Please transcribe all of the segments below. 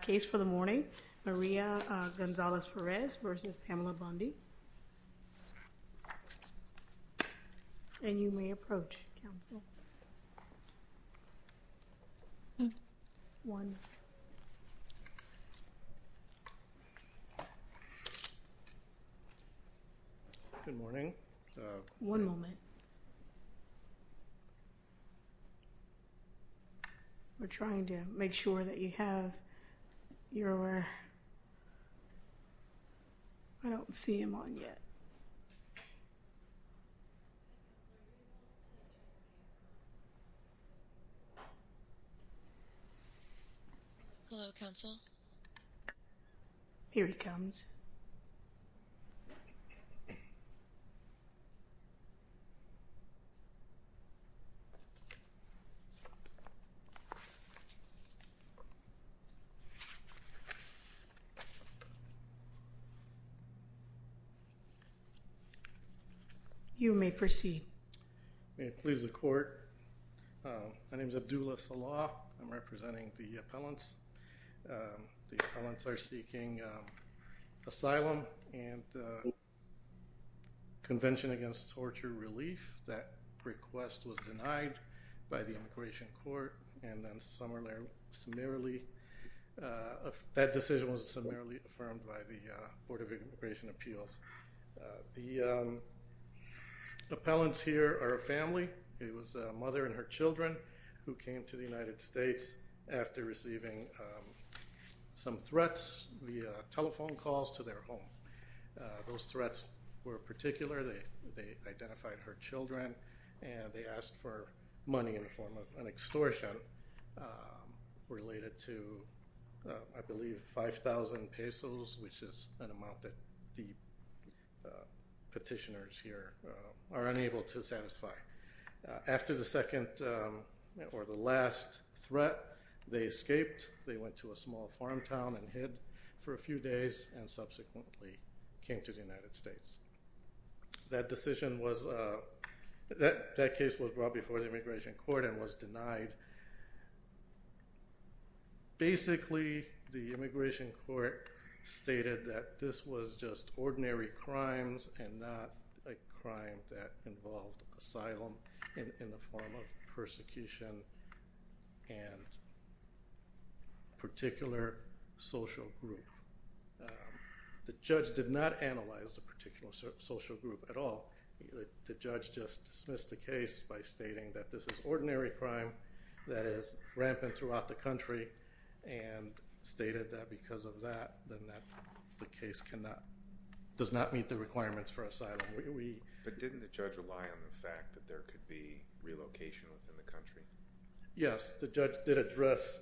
case for the morning. Maria Gonzalez Perez v. Pamela J. Bondi. And you may approach counsel. Good morning. One moment. We're trying to make sure that you have your. I don't see him on yet. Hello, counsel. Here he comes. You may proceed. May it please the court. My name is Abdullah Salah. I'm representing the appellants. The appellants are seeking asylum and Convention Against Torture Relief. That request was denied by the immigration court and then summarily. That decision was summarily affirmed by the Board of Immigration Appeals. The appellants here are a family. It was a mother and her children who came to the United States after receiving some threats via telephone calls to their home. Those threats were particular. They identified her children and they asked for money in the form of an extortion related to I believe 5,000 pesos, which is an amount that the petitioners here are unable to satisfy. After the second or the last threat, they escaped. They went to a small farm town and hid for a few days and subsequently came to the United States. That decision was, that case was brought before the immigration court and was denied. Basically, the immigration court stated that this was just ordinary crimes and not a crime that involved asylum in the form of persecution and particular social group. The judge did not analyze the particular social group at all. The judge just dismissed the case by stating that this is ordinary crime that is rampant throughout the country and stated that that the case does not meet the requirements for asylum. But didn't the judge rely on the fact that there could be relocation within the country? Yes, the judge did address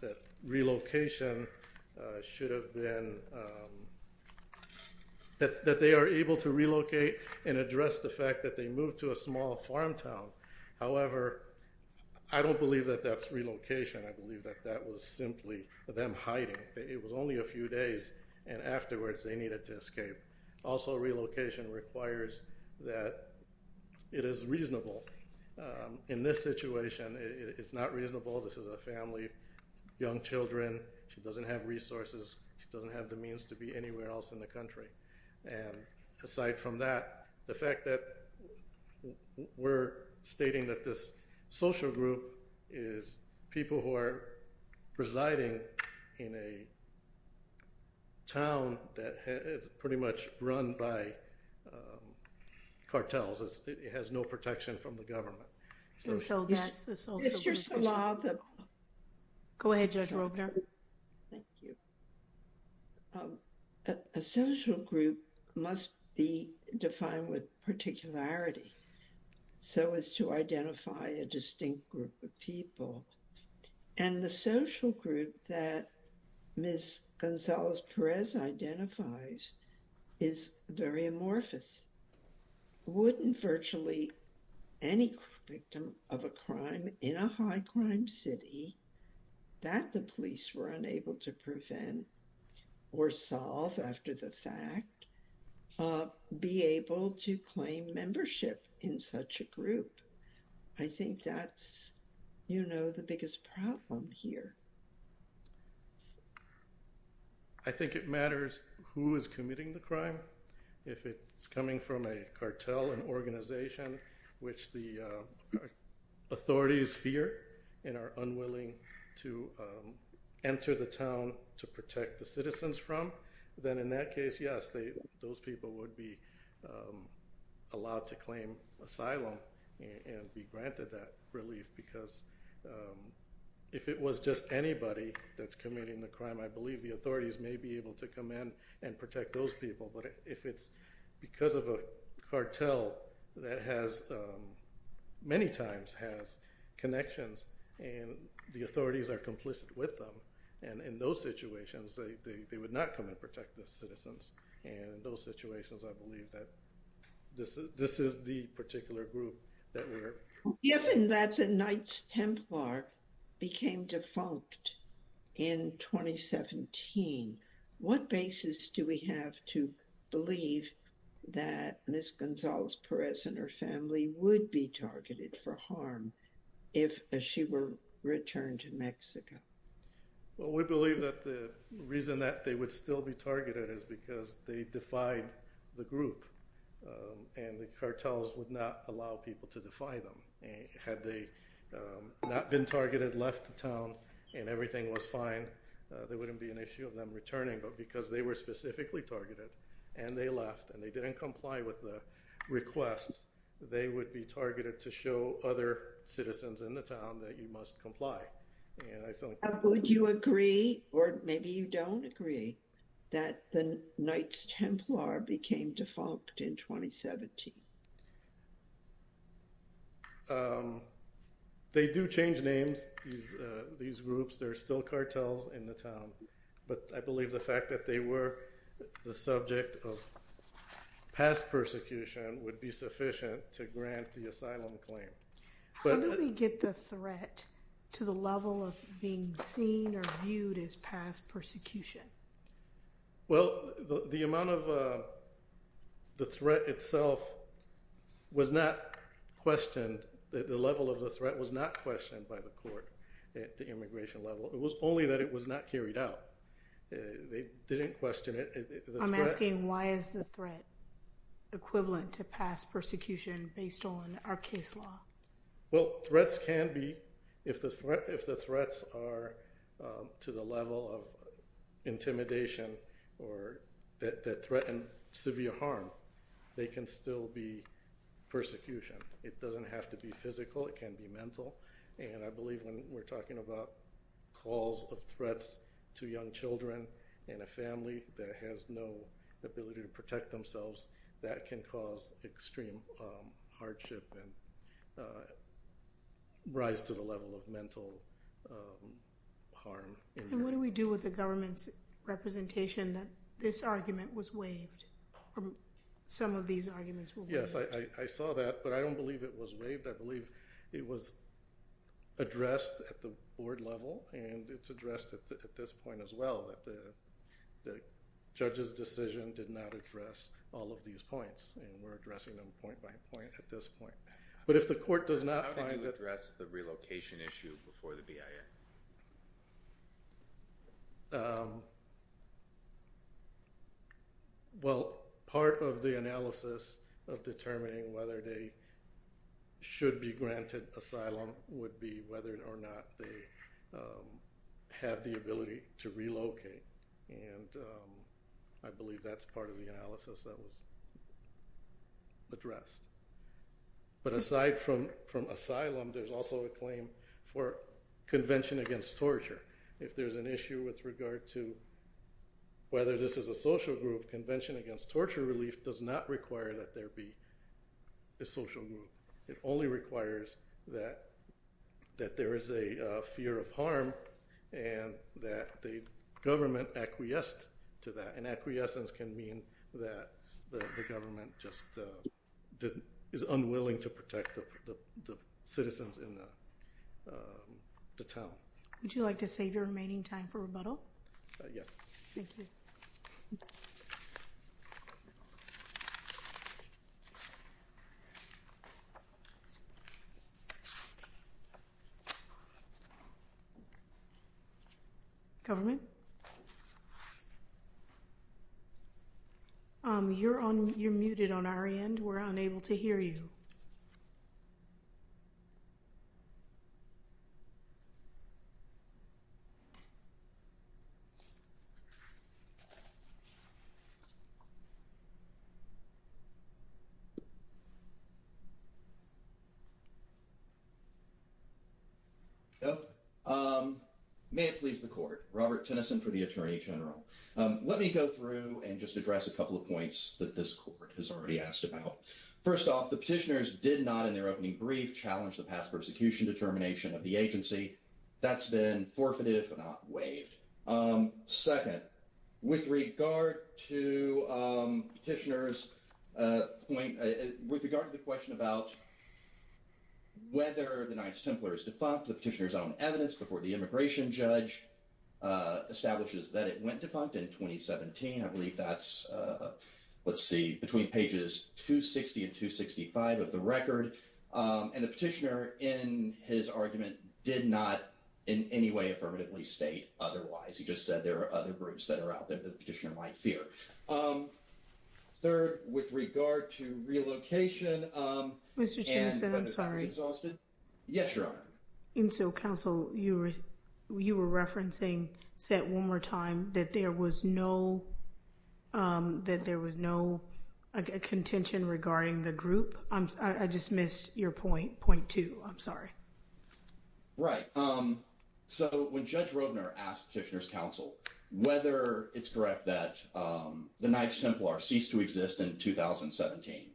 that relocation should have been, that they are able to relocate and address the fact that they moved to a small farm town. However, I don't believe that that's relocation. I believe that that was simply them hiding. It was only a few days and afterwards they needed to escape. Also, relocation requires that it is reasonable. In this situation, it's not reasonable. This is a family, young children. She doesn't have resources. She doesn't have the means to be anywhere else in the country. Aside from that, the fact that we're stating that this social group is people who are residing in a town that is pretty much run by cartels. It has no protection from the police. The social group must be defined with particularity so as to identify a distinct group of people. And the social group that Ms. Gonzalez-Perez identifies is very amorphous. Wouldn't virtually any victim of a crime in a high crime city that the police were unable to prevent or solve after the fact be able to claim membership in such a group? I think that's, you know, the biggest problem here. I think it matters who is committing the crime. If it's coming from a cartel, an organization, which the authorities fear and are unwilling to enter the town to protect the citizens from, then in that case, yes, those people would be allowed to claim asylum and be granted that relief because if it was just anybody that's committing the crime, I believe the authorities may be able to come in and protect those people. But if it's because of a cartel that many times has connections and the authorities are complicit with them, and in those situations, they would not come and protect the citizens. And in those situations, I believe that this is the particular group that we are. Given that the Knights Templar became defunct in 2017, what basis do we have to believe that Ms. Gonzalez-Perez and her family would be targeted for harm if she were returned to Mexico? Well, we believe that the reason that they would still be targeted is because they defied the group, and the cartels would not allow people to defy them. Had they not been targeted, left the town, and everything was fine, there wouldn't be an issue of them returning. But because they were specifically targeted, and they left, and they didn't comply with the request, they would be targeted to show other citizens in the town that you must comply. Would you agree, or maybe you agree, that the Knights Templar became defunct in 2017? They do change names, these groups. There are still cartels in the town. But I believe the fact that they were the subject of past persecution would be sufficient to grant the asylum claim. How did we get the threat to the level of being seen or viewed as past persecution? Well, the amount of the threat itself was not questioned. The level of the threat was not questioned by the court at the immigration level. It was only that it was not carried out. They didn't question it. I'm asking why is the threat equivalent to past persecution based on our case law? Well, threats can be. If the threats are to the level of intimidation or that threaten severe harm, they can still be persecution. It doesn't have to be physical, it can be mental. And I believe when we're talking about calls of threats to young children and a family that has no ability to protect themselves, that can cause extreme hardship and rise to the level of mental harm. And what do we do with the government's representation that this argument was waived, or some of these arguments were waived? Yes, I saw that, but I don't believe it was waived. I believe it was addressed at the board level, and it's addressed at this point as well. The judge's decision did not address all of these points, and we're addressing them point by point at this point. But how can you address the relocation issue before the BIA? Well, part of the analysis of determining whether they should be granted asylum would be whether or they have the ability to relocate. And I believe that's part of the analysis that was addressed. But aside from asylum, there's also a claim for convention against torture. If there's an issue with regard to whether this is a social group, convention against torture relief does not require that there be a social group. It only requires that there is a fear of harm and that the government acquiesced to that. And acquiescence can mean that the government just is unwilling to protect the citizens in the town. Would you like to save your remaining time for rebuttal? Yes. Thank you. Government? You're muted on our end. We're unable to hear you. Okay. May it please the court. Robert Tennyson for the Attorney General. Let me go through and just address a couple of points that this court has already asked about. First off, the petitioners did not, in their opening brief, challenge the past persecution determination of the agency. That's been forfeited but not waived. Second, with regard to the question about whether the Knights Templar is defunct, the petitioner's own evidence before the immigration judge establishes that it went defunct in 2017. I believe that's, let's see, between pages 260 and 265 of the record. And the petitioner, in his argument, did not in any way affirmatively state otherwise. He just said there are other groups that are out there that the petitioner might fear. Third, with regard to relocation... Mr. Tennyson, I'm sorry. Yes, Your Honor. And so, counsel, you were referencing, said one more time, that there was no contention regarding the group. I just missed your point, point two. I'm sorry. Right. So when Judge Roedner asked petitioner's counsel whether it's correct that the Knights Templar ceased to exist in 2017,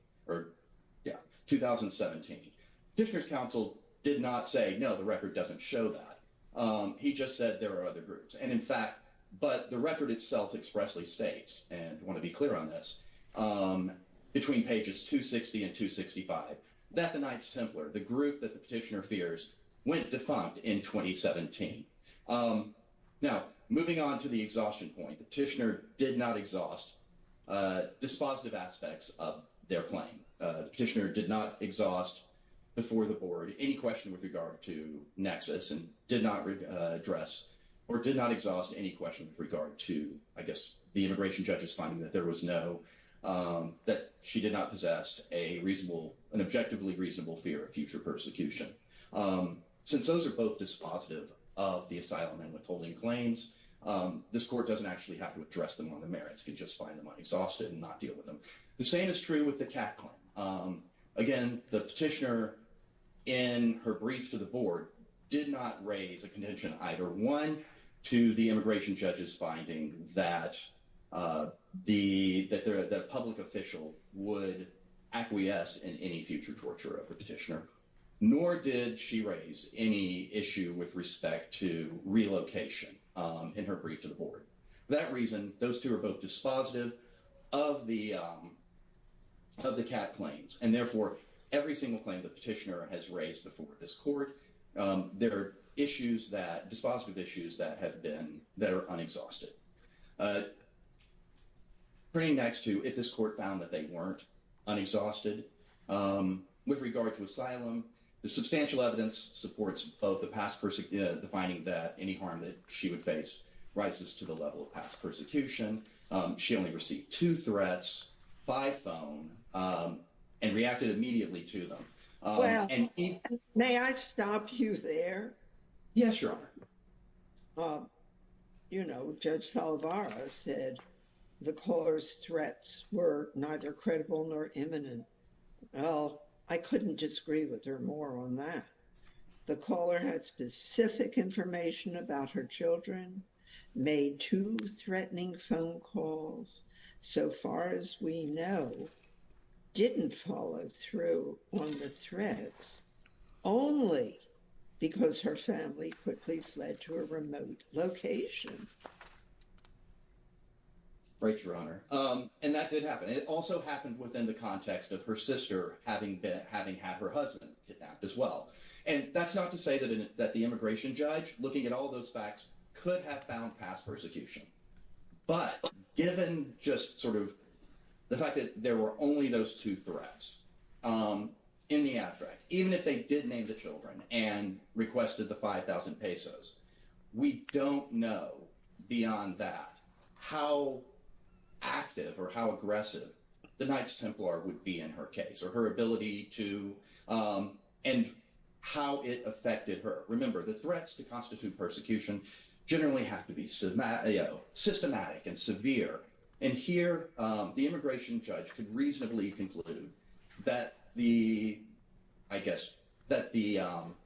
petitioner's counsel did not say, no, the record doesn't show that. He just said there are other groups. And in fact, but the record itself expressly states, and I want to be clear on this, between pages 260 and 265 that the Knights Templar, the group that the petitioner fears, went defunct in 2017. Now, moving on to the exhaustion point, the petitioner did not exhaust dispositive aspects of their claim. The petitioner did not exhaust before the board any question with regard to nexus and did not address or did not exhaust any question with regard to, I guess, the immigration judge's finding that there was no, that she did not possess an objectively reasonable fear of future persecution. Since those are both dispositive of the asylum and withholding claims, this court doesn't actually have to address them on the merits. It can just find them unexhausted and not deal with them. The same is true with the Kat claim. Again, the petitioner, in her brief to the board, did not raise a contention either, one, to the immigration judge's finding that the public official would acquiesce in any future torture of the petitioner, nor did she raise any issue with respect to relocation in her brief to the board. For that reason, those two are both dispositive of the Kat claims. And therefore, every single claim the petitioner has raised before this court, there are issues that, dispositive issues that have been, that are unexhausted. Praying next to if this court found that they weren't unexhausted with regard to asylum, the substantial evidence supports both the past, the finding that any harm that she would face rises to the level of past persecution. She only received two threats, five phone, and reacted immediately to them. May I stop you there? Yes, Your Honor. You know, Judge Salvara said the caller's threats were neither credible nor imminent. Well, I couldn't disagree with her more on that. The caller had specific information about her made two threatening phone calls, so far as we know, didn't follow through on the threats, only because her family quickly fled to a remote location. Right, Your Honor. And that did happen. It also happened within the context of her sister, having been having had her husband kidnapped as well. And that's not to say that that the judge, looking at all those facts, could have found past persecution. But given just sort of the fact that there were only those two threats in the abstract, even if they did name the children and requested the 5,000 pesos, we don't know beyond that how active or how aggressive the Knights Templar would be in her case, or her ability to, and how it affected her. Remember, the threats to constitute persecution generally have to be systematic and severe. And here, the immigration judge could reasonably conclude that the, I guess, that the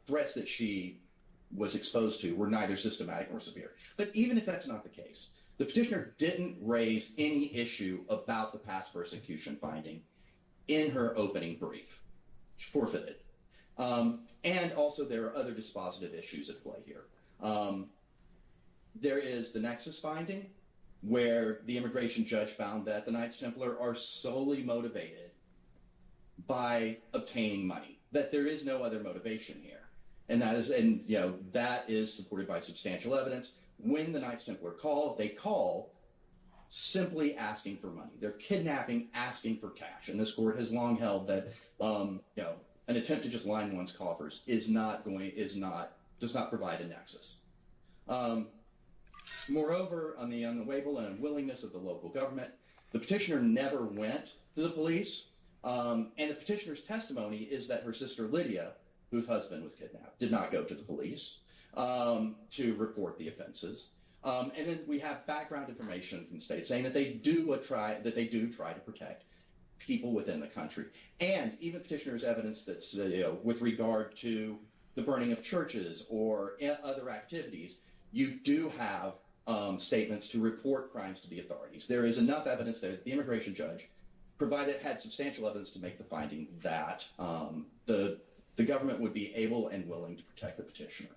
threats that she was exposed to were neither systematic nor severe. But even if that's not the case, the petitioner didn't raise any issue about the past persecution finding in her opening brief. Forfeited. And also, there are other dispositive issues at play here. There is the nexus finding where the immigration judge found that the Knights Templar are solely motivated by obtaining money, that there is no other motivation here. And that is, you know, that is supported by substantial evidence. When the Knights Templar call, they call simply asking for money. They're kidnapping, asking for cash. And this court has long held that an attempt to just line one's coffers is not going, is not, does not provide a nexus. Moreover, on the unwavering and unwillingness of the local government, the petitioner never went to the police. And the petitioner's testimony is that her sister Lydia, whose husband was kidnapped, did not go to the police to report the offenses. And then we have background information from the state saying that they do try to protect people within the country. And even petitioner's evidence that's, you know, with regard to the burning of churches or other activities, you do have statements to report crimes to the authorities. There is enough evidence that the immigration judge provided had substantial evidence to make the finding that the government would be able and willing to protect the petitioner.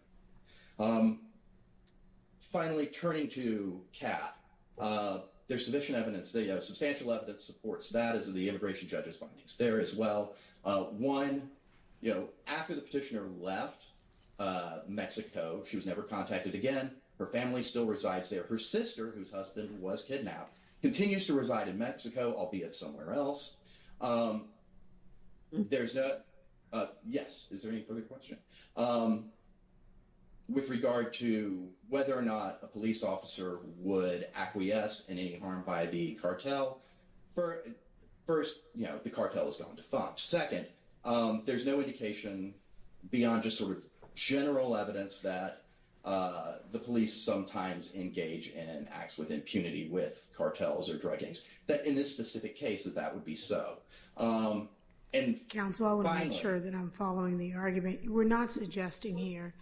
Finally, turning to Kat, there's sufficient evidence, substantial evidence supports that as the immigration judge's findings there as well. One, you know, after the petitioner left Mexico, she was never contacted again. Her family still resides there. Her sister, whose husband was kidnapped, continues to reside in Mexico, albeit somewhere else. There's no, yes, is there any further question? With regard to whether or not a police officer would acquiesce in any harm by the cartel, first, you know, the cartel has gone defunct. Second, there's no indication beyond just sort of general evidence that the police sometimes engage in acts with impunity with cartels or drug gangs, that in this specific case that that would be so. And Council, I want to make sure that I'm following the argument. We're not suggesting here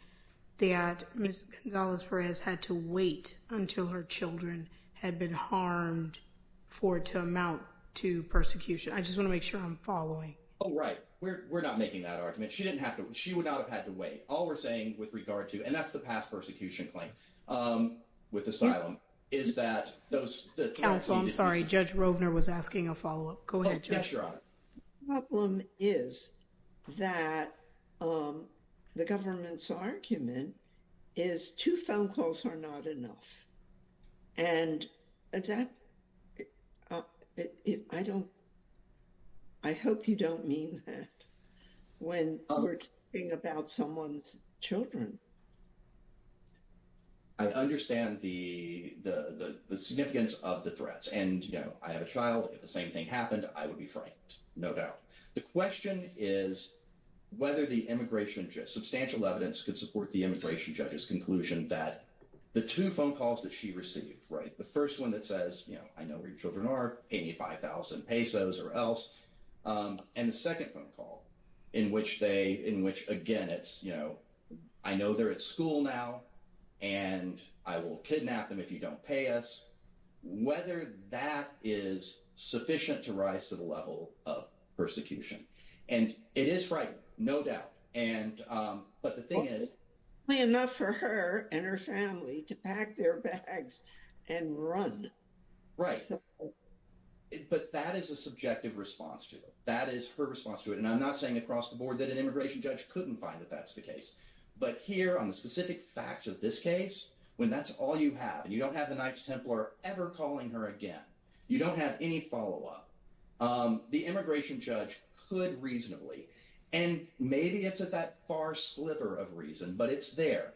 that Ms. Gonzalez-Perez had to wait until her children had been harmed for it to amount to persecution. I just want to make sure I'm following. Oh, right. We're not making that argument. She didn't have to. She would not have had to wait. All we're saying with regard to, and that's the past persecution claim with asylum, is that those. Council, I'm asking a follow-up. Go ahead. Yes, Your Honor. The problem is that the government's argument is two phone calls are not enough. And that, I don't, I hope you don't mean that when we're talking about someone's children. I understand the significance of the threats. And, I have a child. If the same thing happened, I would be frightened, no doubt. The question is whether the immigration, just substantial evidence, could support the immigration judge's conclusion that the two phone calls that she received, right? The first one that says, I know where your children are, 85,000 pesos or else. And the second phone call in which they, in which, again, it's, I know they're at school now and I will kidnap them if you don't pay us. Whether that is sufficient to rise to the level of persecution. And it is frightening, no doubt. And, but the thing is. Probably enough for her and her family to pack their bags and run. Right. But that is a subjective response to it. That is her response to it. And I'm not saying across the board that an immigration judge couldn't find that that's the case. But here, on the specific facts of this case, when that's all you have, and you don't have the Knights Templar ever calling her again, you don't have any follow-up, the immigration judge could reasonably, and maybe it's at that far sliver of reason, but it's there,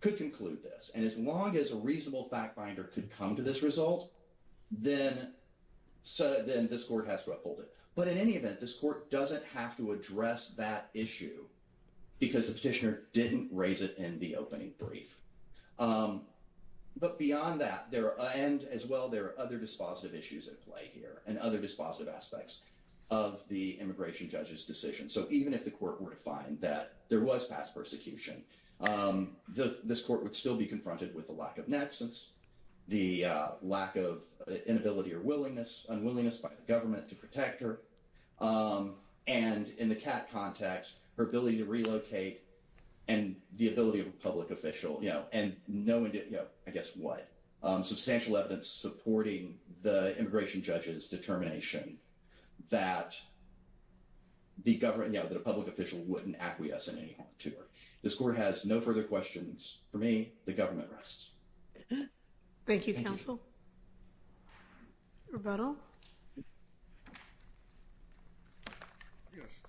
could conclude this. And as long as a reasonable fact finder could come to this result, then this court has to uphold it. But in any event, this court doesn't have to address that issue because the petitioner didn't raise it in the opening brief. But beyond that, there are, and as well, there are other dispositive issues at play here, and other dispositive aspects of the immigration judge's decision. So even if the court were to find that there was past persecution, this court would still be confronted with the lack of nexus, the lack of inability or willingness, unwillingness by the government to protect her, and in the CAT context, her ability to relocate and the ability of a public official, you know, and no one did, you know, I guess what? Substantial evidence supporting the immigration judge's determination that the government, you know, that a public official wouldn't acquiesce in any harm to her. This court has no further questions. For me, the government rests. Thank you, counsel. Rebuttal? Yes.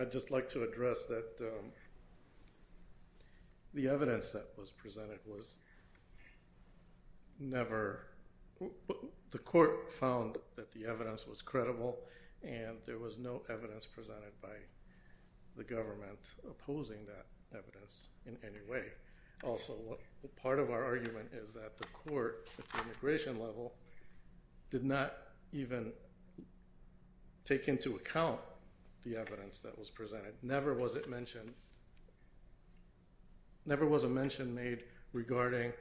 I'd just like to address that the evidence that was presented was never, the court found that the evidence was credible, and there was no evidence presented by the government opposing that evidence in any way. Also, part of our argument is that the court at the immigration level did not even take into account the evidence that was presented. Never was it mentioned, never was a mention made regarding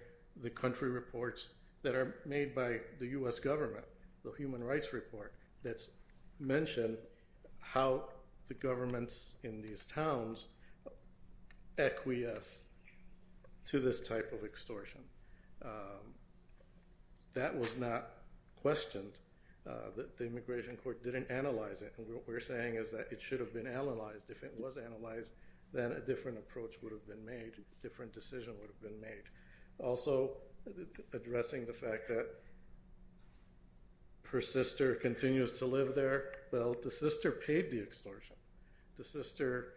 the country reports that are made by the U.S. government, the human rights report that's mentioned how the governments in these towns acquiesce to this type of extortion. That was not questioned. The immigration court didn't analyze it, and what we're saying is that it should have been analyzed. If it was analyzed, then a different approach would have been made, a different decision would have been made. Also, addressing the fact that her sister continues to live there, well, the sister paid the extortion. The sister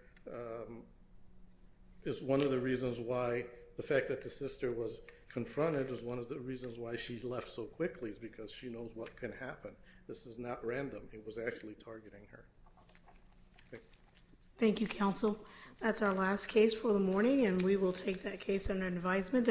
is one of the reasons why the fact that the sister was confronted is one of the reasons why she left so quickly, because she knows what can happen. This is not random. It was actually targeting her. Thank you, counsel. That's our last case for the morning, and we will take that case under advisement.